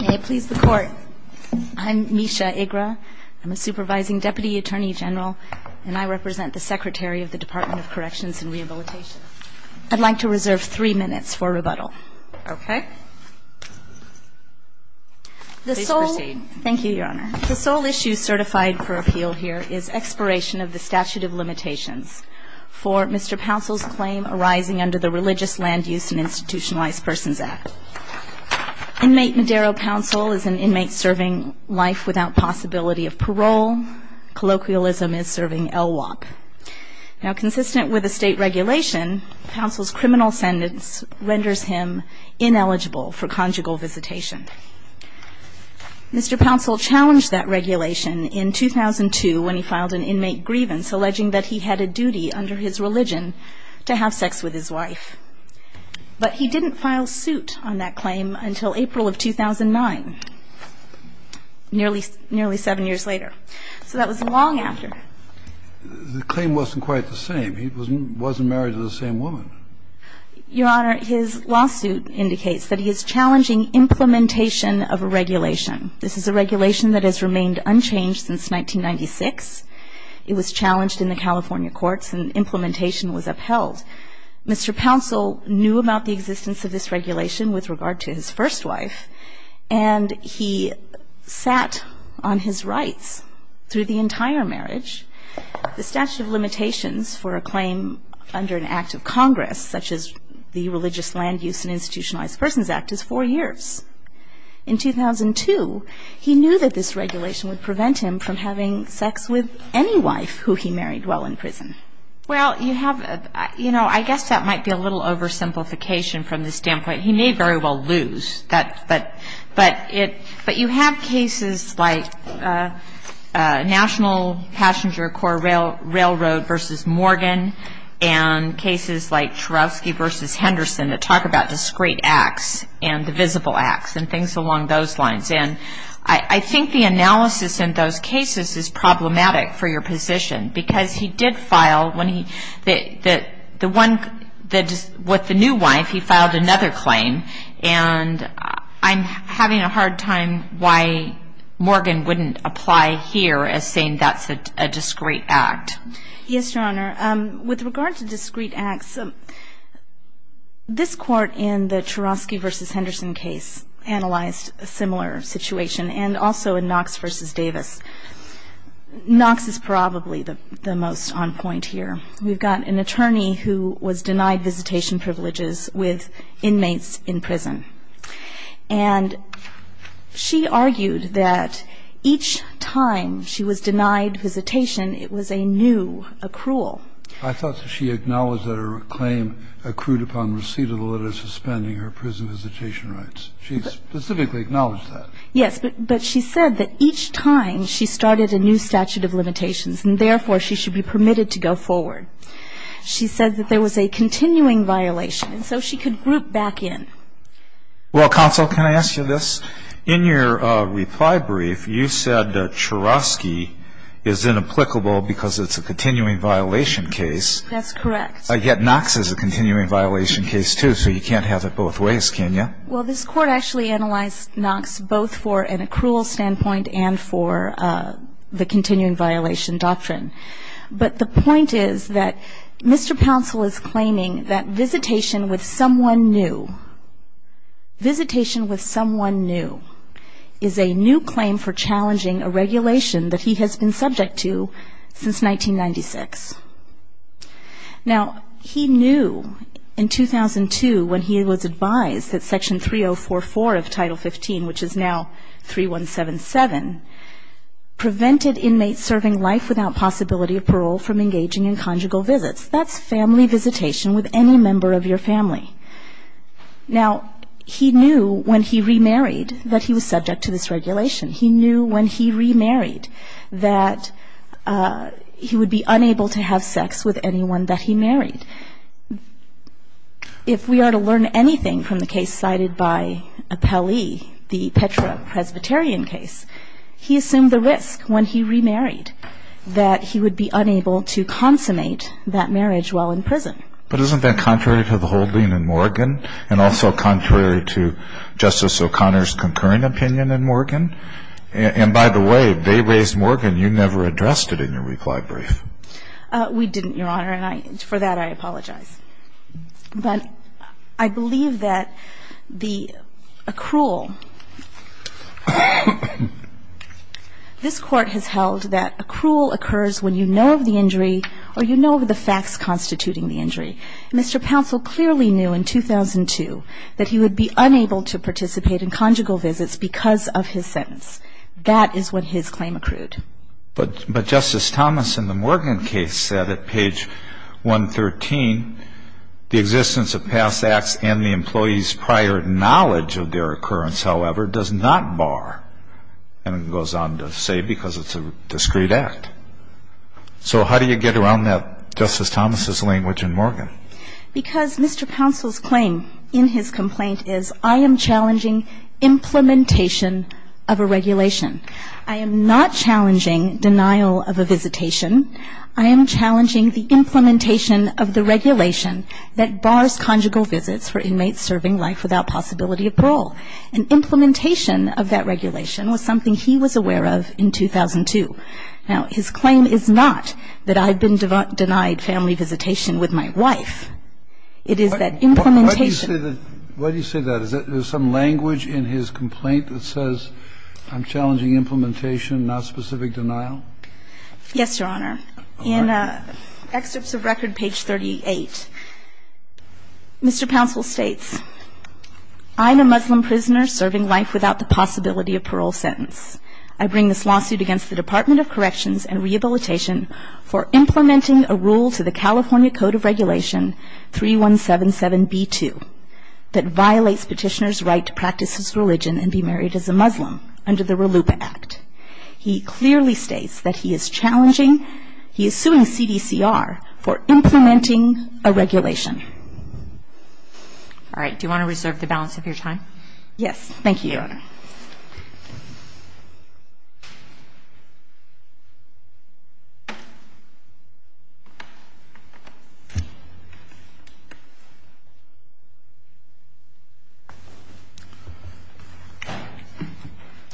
May it please the Court, I'm Misha Igra. I'm a supervising Deputy Attorney General, and I represent the Secretary of the Department of Corrections and Rehabilitation. I'd like to reserve three minutes for rebuttal. Okay. Please proceed. Thank you, Your Honor. The sole issue certified for appeal here is expiration of the statute of limitations for Mr. Pouncil's claim arising under the Religious Land Use and Institutionalized Persons Act. Inmate Madero Pouncil is an inmate serving life without possibility of parole. Colloquialism is serving LWOP. Now, consistent with the state regulation, Pouncil's criminal sentence renders him ineligible for conjugal visitation. Mr. Pouncil challenged that regulation in 2002 when he filed an inmate grievance alleging that he had a duty under his religion to have sex with his wife. But he didn't file suit on that claim until April of 2009, nearly seven years later. So that was long after. The claim wasn't quite the same. He wasn't married to the same woman. Your Honor, his lawsuit indicates that he is challenging implementation of a regulation. This is a regulation that has remained unchanged since 1996. It was challenged in the California courts and implementation was upheld. Mr. Pouncil knew about the existence of this regulation with regard to his first wife, and he sat on his rights through the entire marriage. The statute of limitations for a claim under an act of Congress, such as the Religious Land Use and Institutionalized Persons Act, is four years. In 2002, he knew that this regulation would prevent him from having sex with any wife who he married while in prison. Well, you have, you know, I guess that might be a little oversimplification from the standpoint he may very well lose. But you have cases like National Passenger Corps Railroad v. Morgan and cases like Chorovsky v. Henderson that talk about discrete acts and divisible acts and things along those lines. And I think the analysis in those cases is problematic for your position, because he did file when he, the one, with the new wife, he filed another claim. And I'm having a hard time why Morgan wouldn't apply here as saying that's a discrete act. Yes, Your Honor. With regard to discrete acts, this Court in the Chorovsky v. Henderson case analyzed a similar situation, and also in Knox v. Davis. Knox is probably the most on point here. We've got an attorney who was denied visitation privileges with inmates in prison. And she argued that each time she was denied visitation, it was a new accrual. I thought that she acknowledged that her claim accrued upon receipt of the letter suspending her prison visitation rights. She specifically acknowledged that. Yes. But she said that each time she started a new statute of limitations, and therefore she should be permitted to go forward. She said that there was a continuing violation, and so she could group back in. Well, counsel, can I ask you this? In your reply brief, you said that Chorovsky is inapplicable because it's a continuing violation case. That's correct. Yet Knox is a continuing violation case, too, so you can't have it both ways, can you? Well, this Court actually analyzed Knox both for an accrual standpoint and for the continuing violation doctrine. But the point is that Mr. Pouncell is claiming that visitation with someone new, visitation with someone new, is a new claim for challenging a regulation that he has been subject to since 1996. Now, he knew in 2002 when he was advised that Section 3044 of Title 15, which is now 3177, prevented inmates serving life without possibility of parole from engaging in conjugal visits. That's family visitation with any member of your family. Now, he knew when he remarried that he was subject to this regulation. He knew when he remarried that he would be unable to have sex with anyone that he married. If we are to learn anything from the case cited by Appellee, the Petra Presbyterian case, he assumed the risk when he remarried that he would be unable to consummate that marriage while in prison. But isn't that contrary to the whole thing in Morgan and also contrary to Justice O'Connor's concurrent opinion in Morgan? And by the way, if they raised Morgan, you never addressed it in your reply brief. We didn't, Your Honor, and for that I apologize. But I believe that the accrual this Court has held that accrual occurs when you know of the injury or you know of the facts constituting the injury. Mr. Pouncell clearly knew in 2002 that he would be unable to participate in conjugal visits because of his sentence. That is what his claim accrued. But Justice Thomas in the Morgan case said at page 113, the existence of past acts and the employee's prior knowledge of their occurrence, however, does not bar, and it goes on to say because it's a discreet act. So how do you get around that, Justice Thomas's language in Morgan? Because Mr. Pouncell's claim in his complaint is I am challenging implementation of a regulation. I am not challenging denial of a visitation. I am challenging the implementation of the regulation that bars conjugal visits for inmates serving life without possibility of parole. And implementation of that regulation was something he was aware of in 2002. Now, his claim is not that I've been denied family visitation with my wife. It is that implementation of that regulation is something that I've been denied. Why do you say that? Is there some language in his complaint that says I'm challenging implementation, not specific denial? Yes, Your Honor. In Excerpts of Record page 38, Mr. Pouncell states, I'm a Muslim under the RLUIPA Act. He clearly states that he is challenging, he is suing CDCR for implementing a regulation. All right. Do you want to reserve the balance of your time? Yes. Thank you, Your Honor. Yes. Thank you, Your Honor.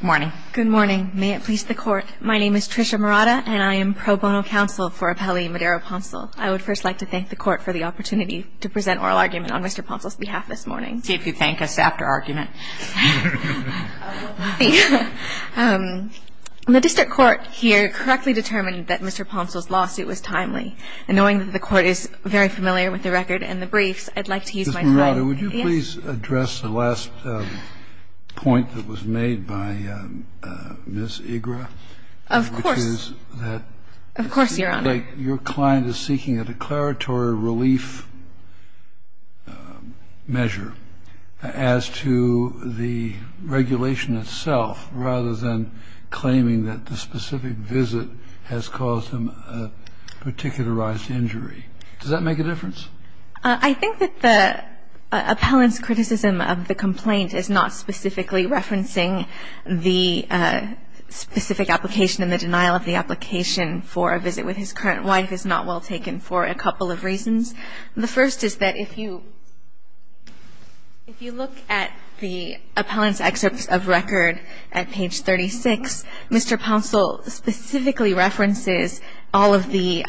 Good morning. Good morning. May it please the Court. My name is Tricia Murata, and I am pro bono counsel for Appellee Madero Pouncell. I would first like to thank the Court for the opportunity to present oral argument on Mr. Pouncell's behalf this morning. See if you thank us after argument. The district court here correctly determined that Mr. Pouncell's lawsuit was timely. And knowing that the Court is very familiar with the record and the briefs, I'd like to use my time. Ms. Murata, would you please address the last point that was made by Ms. Igra? Of course. Which is that your client is seeking a declaratory relief measure as to the regulation itself, rather than claiming that the specific visit has caused him a particular rise to injury. Does that make a difference? I think that the appellant's criticism of the complaint is not specifically referencing the specific application and the denial of the application for a visit with his current wife is not well taken for a couple of reasons. The first is that if you look at the appellant's excerpts of record at page 36, Mr. Pouncell specifically references all of the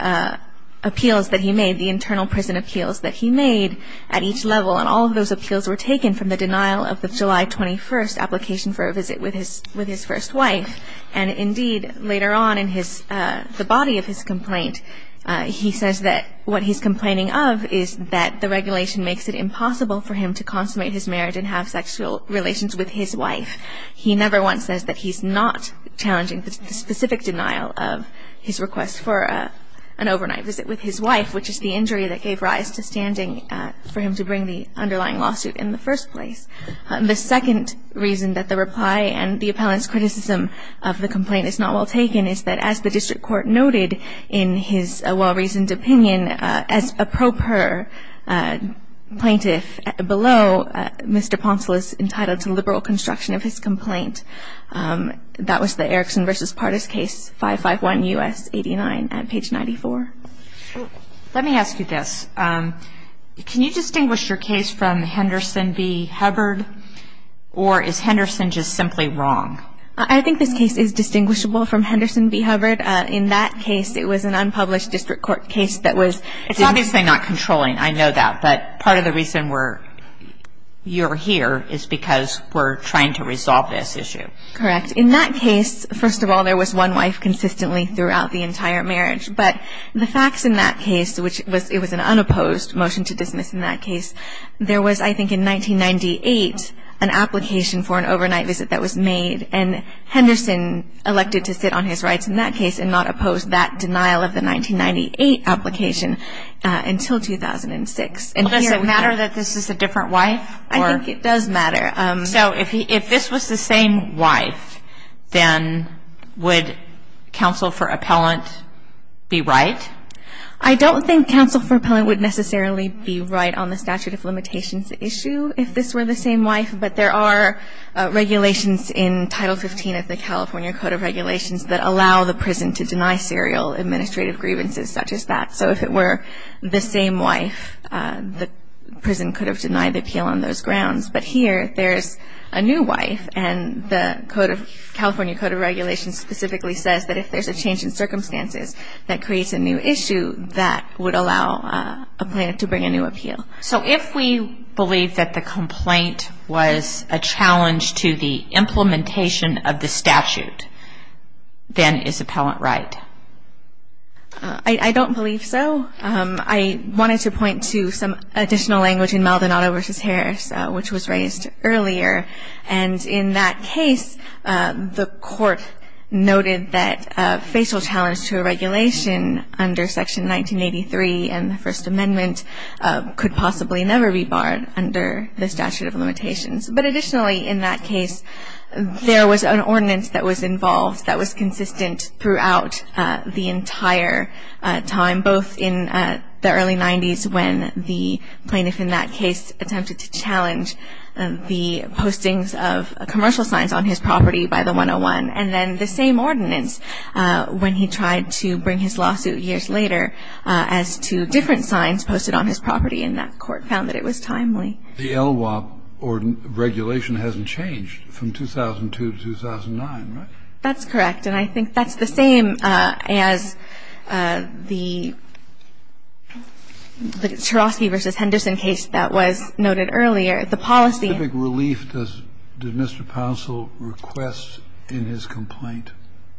appeals that he made, the internal prison appeals that he made at each level. And all of those appeals were taken from the denial of the July 21st application for a visit with his first wife. And indeed, later on in the body of his complaint, he says that what he's complaining of is that the regulation makes it impossible for him to consummate his marriage and have sexual relations with his wife. He never once says that he's not challenging the specific denial of his request for an overnight visit with his wife, which is the injury that gave rise to standing for him to bring the underlying lawsuit in the first place. The second reason that the reply and the appellant's criticism of the complaint is not well taken is that as the district court noted in his well-reasoned opinion, as a pro per plaintiff below, Mr. Pouncell is entitled to liberal construction of his complaint. That was the Erickson v. Pardis case, 551 U.S. 89 at page 94. Let me ask you this. Can you distinguish your case from Henderson v. Hubbard? Or is Henderson just simply wrong? I think this case is distinguishable from Henderson v. Hubbard. In that case, it was an unpublished district court case that was It's obviously not controlling, I know that. But part of the reason you're here is because we're trying to resolve this issue. Correct. In that case, first of all, there was one wife consistently throughout the entire marriage. But the facts in that case, which it was an unopposed motion to dismiss in that case, there was, I think, in 1998 an application for an overnight visit that was made, and Henderson elected to sit on his rights in that case and not oppose that Does it matter that this is a different wife? I think it does matter. So if this was the same wife, then would counsel for appellant be right? I don't think counsel for appellant would necessarily be right on the statute of limitations issue if this were the same wife. But there are regulations in Title 15 of the California Code of Regulations that allow the prison to deny serial administrative grievances such as that. So if it were the same wife, the prison could have denied the appeal on those grounds. But here, there's a new wife, and the California Code of Regulations specifically says that if there's a change in circumstances that creates a new issue, that would allow a plaintiff to bring a new appeal. So if we believe that the complaint was a challenge to the implementation of the statute, then is appellant right? I don't believe so. I wanted to point to some additional language in Maldonado v. Harris, which was raised earlier. And in that case, the Court noted that a facial challenge to a regulation under Section 1983 and the First Amendment could possibly never be barred under the statute of limitations. But additionally, in that case, there was an ordinance that was involved that was challenged the entire time, both in the early 90s when the plaintiff in that case attempted to challenge the postings of commercial signs on his property by the 101, and then the same ordinance when he tried to bring his lawsuit years later as to different signs posted on his property. And that Court found that it was timely. The LWOP regulation hasn't changed from 2002 to 2009, right? That's correct. And I think that's the same as the Chorosky v. Henderson case that was noted earlier. The policy of relief does Mr. Poncel request in his complaint?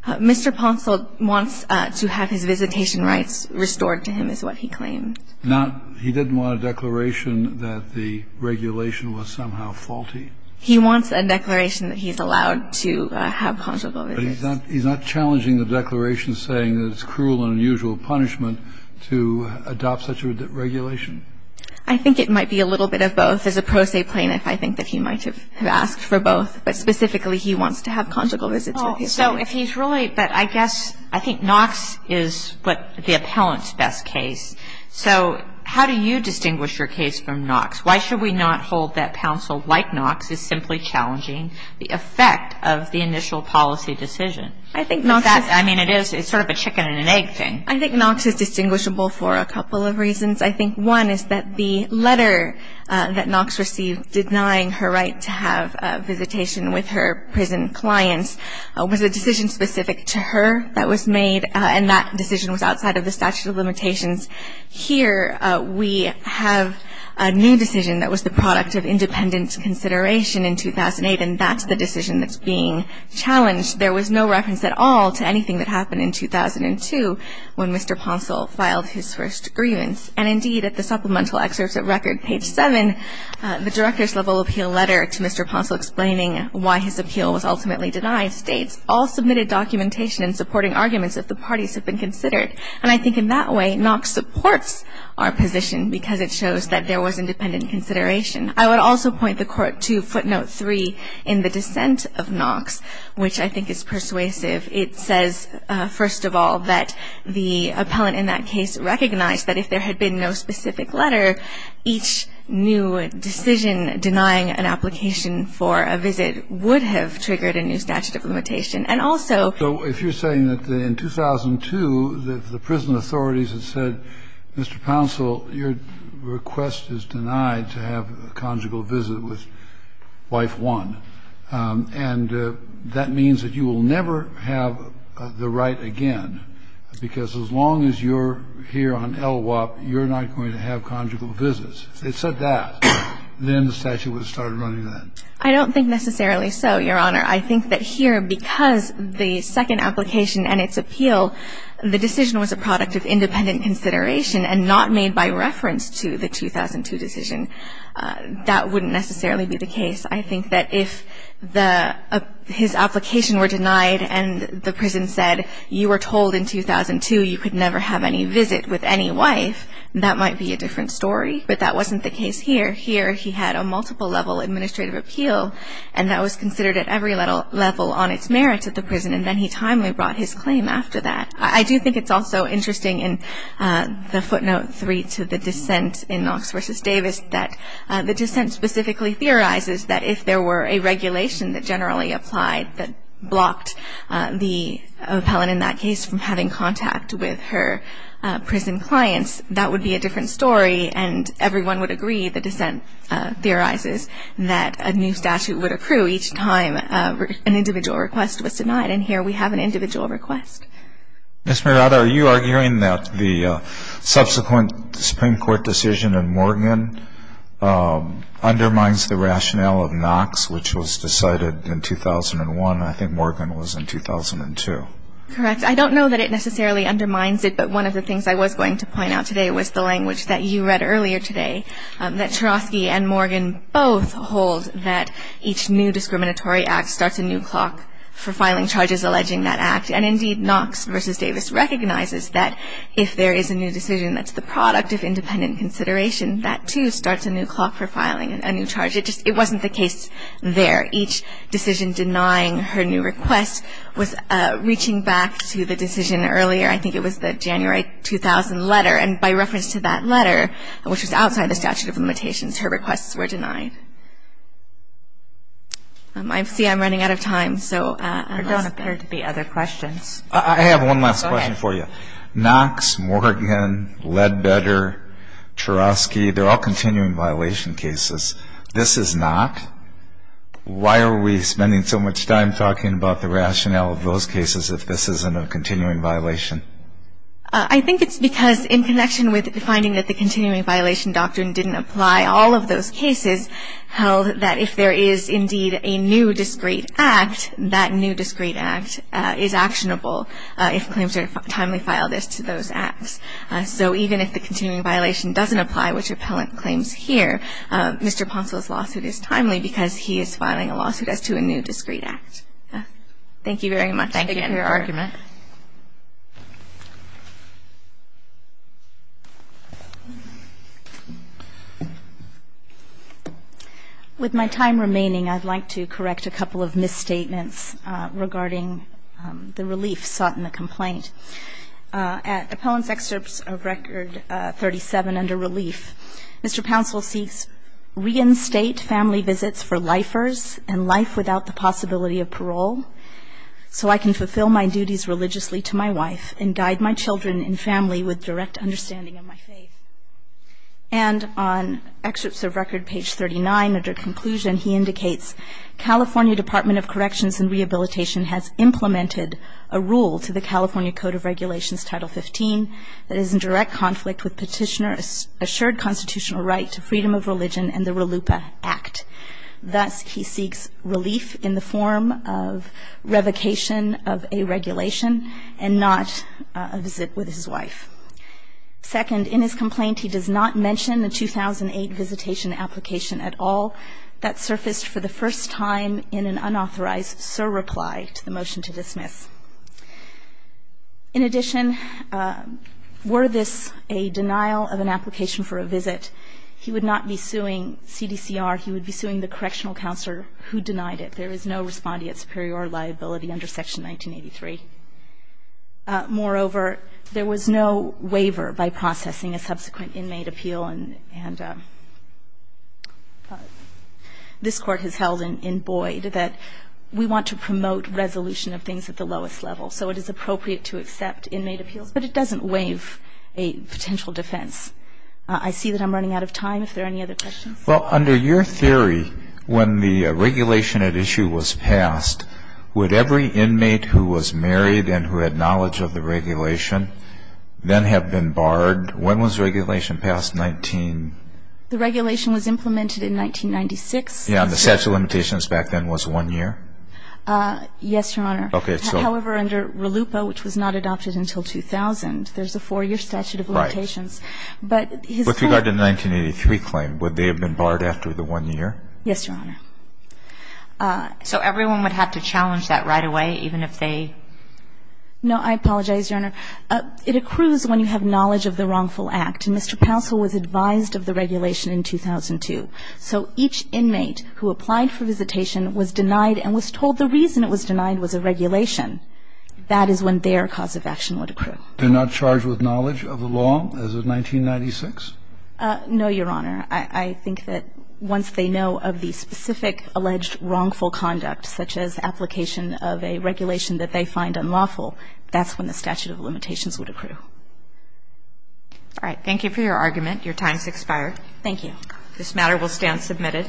Mr. Poncel wants to have his visitation rights restored to him, is what he claimed. Now, he didn't want a declaration that the regulation was somehow faulty? He wants a declaration that he's allowed to have conjugal visits. But he's not challenging the declaration saying that it's cruel and unusual punishment to adopt such a regulation? I think it might be a little bit of both. As a pro se plaintiff, I think that he might have asked for both. But specifically, he wants to have conjugal visits with his client. So if he's really – but I guess – I think Knox is the appellant's best case. So how do you distinguish your case from Knox? Why should we not hold that Poncel, like Knox, is simply challenging the effect of the initial policy decision? I think Knox is – I mean, it is – it's sort of a chicken and an egg thing. I think Knox is distinguishable for a couple of reasons. I think one is that the letter that Knox received denying her right to have a visitation with her prison clients was a decision specific to her that was made, and that decision was outside of the statute of limitations. Here we have a new decision that was the product of independent consideration in 2008, and that's the decision that's being challenged. There was no reference at all to anything that happened in 2002 when Mr. Poncel filed his first grievance. And, indeed, at the supplemental excerpts at record, page 7, the director's level appeal letter to Mr. Poncel explaining why his appeal was ultimately denied states, all submitted documentation in supporting arguments that the parties have been considered. And I think in that way Knox supports our position because it shows that there was independent consideration. I would also point the Court to footnote 3 in the dissent of Knox, which I think is persuasive. It says, first of all, that the appellant in that case recognized that if there had been no specific letter, each new decision denying an application for a visit would have triggered a new statute of limitation. And also ---- Kennedy So if you're saying that in 2002, that the prison authorities had said, Mr. Poncel, your request is denied to have a conjugal visit with wife one, and that means that you will never have the right again, because as long as you're here on LWOP, you're not going to have conjugal visits. If they said that, then the statute would have started running then. I don't think necessarily so, Your Honor. I think that here, because the second application and its appeal, the decision was a product of independent consideration and not made by reference to the 2002 decision, that wouldn't necessarily be the case. I think that if the ---- his application were denied and the prison said, you were told in 2002 you could never have any visit with any wife, that might be a different story. But that wasn't the case here. Here he had a multiple-level administrative appeal, and that was considered at every level on its merits at the prison, and then he timely brought his claim after that. I do think it's also interesting in the footnote 3 to the dissent in Knox v. Davis that the dissent specifically theorizes that if there were a regulation that generally applied that blocked the appellant in that case from having contact with her prison clients, that would be a different story, and everyone would agree, the dissent theorizes, that a new statute would accrue each time an individual request was denied. And here we have an individual request. Ms. Marotta, are you arguing that the subsequent Supreme Court decision in Morgan undermines the rationale of Knox, which was decided in 2001, and I think Morgan was in 2002? Correct. I don't know that it necessarily undermines it, but one of the things I was going to point out today was the language that you read earlier today, that Chorosky and Morgan both hold that each new discriminatory act starts a new clock for filing charges alleging that act. And, indeed, Knox v. Davis recognizes that if there is a new decision that's the product of independent consideration, that, too, starts a new clock for filing a new charge. It just wasn't the case there. Each decision denying her new request was reaching back to the decision earlier, I think it was the January 2000 letter, and by reference to that letter, which was outside the statute of limitations, her requests were denied. I see I'm running out of time. There don't appear to be other questions. I have one last question for you. Go ahead. Knox, Morgan, Ledbetter, Chorosky, they're all continuing violation cases. This is not. Why are we spending so much time talking about the rationale of those cases if this isn't a continuing violation? I think it's because in connection with the finding that the continuing violation doctrine didn't apply, all of those cases held that if there is, indeed, a new discrete act, that new discrete act is actionable if claims are timely filed as to those acts. So even if the continuing violation doesn't apply, which Appellant claims here, Mr. Pounceville's lawsuit is timely because he is filing a lawsuit as to a new discrete act. Thank you very much. Thank you for your argument. With my time remaining, I'd like to correct a couple of misstatements regarding the relief sought in the complaint. At Appellant's excerpts of Record 37 under relief, Mr. Pounceville seeks reinstate family visits for lifers and life without the possibility of parole so I can fulfill my duties religiously to my wife and guide my children and family with direct understanding of my faith. And on excerpts of Record page 39, under conclusion, he indicates California Department of Corrections and Rehabilitation has implemented a rule to the California Code of Regulations Title 15 that is in direct conflict with Petitioner's assured constitutional right to freedom of religion and the RLUPA Act. Thus, he seeks relief in the form of revocation of a regulation and not a visit with his wife. Second, in his complaint, he does not mention the 2008 visitation application at all that surfaced for the first time in an unauthorized surreply to the motion to dismiss. In addition, were this a denial of an application for a visit, he would not be suing CDCR, he would be suing the correctional counselor who denied it. There is no respondeat superior liability under Section 1983. Moreover, there was no waiver by processing a subsequent inmate appeal and this Court has held in Boyd that we want to promote resolution of things at the level that is appropriate to accept inmate appeals, but it doesn't waive a potential defense. I see that I'm running out of time. If there are any other questions? Well, under your theory, when the regulation at issue was passed, would every inmate who was married and who had knowledge of the regulation then have been barred? When was the regulation passed? The regulation was implemented in 1996. Yeah, and the statute of limitations back then was one year? Yes, Your Honor. Okay. However, under RELUPA, which was not adopted until 2000, there's a four-year statute of limitations. Right. But his court ---- With regard to the 1983 claim, would they have been barred after the one year? Yes, Your Honor. So everyone would have to challenge that right away, even if they ---- No. I apologize, Your Honor. It accrues when you have knowledge of the wrongful act. Mr. Poussel was advised of the regulation in 2002. So each inmate who applied for visitation was denied and was told the reason it was a violation of the regulation. That is when their cause of action would accrue. They're not charged with knowledge of the law as of 1996? No, Your Honor. I think that once they know of the specific alleged wrongful conduct, such as application of a regulation that they find unlawful, that's when the statute of limitations would accrue. All right. Thank you for your argument. Your time has expired. Thank you. This matter will stand submitted.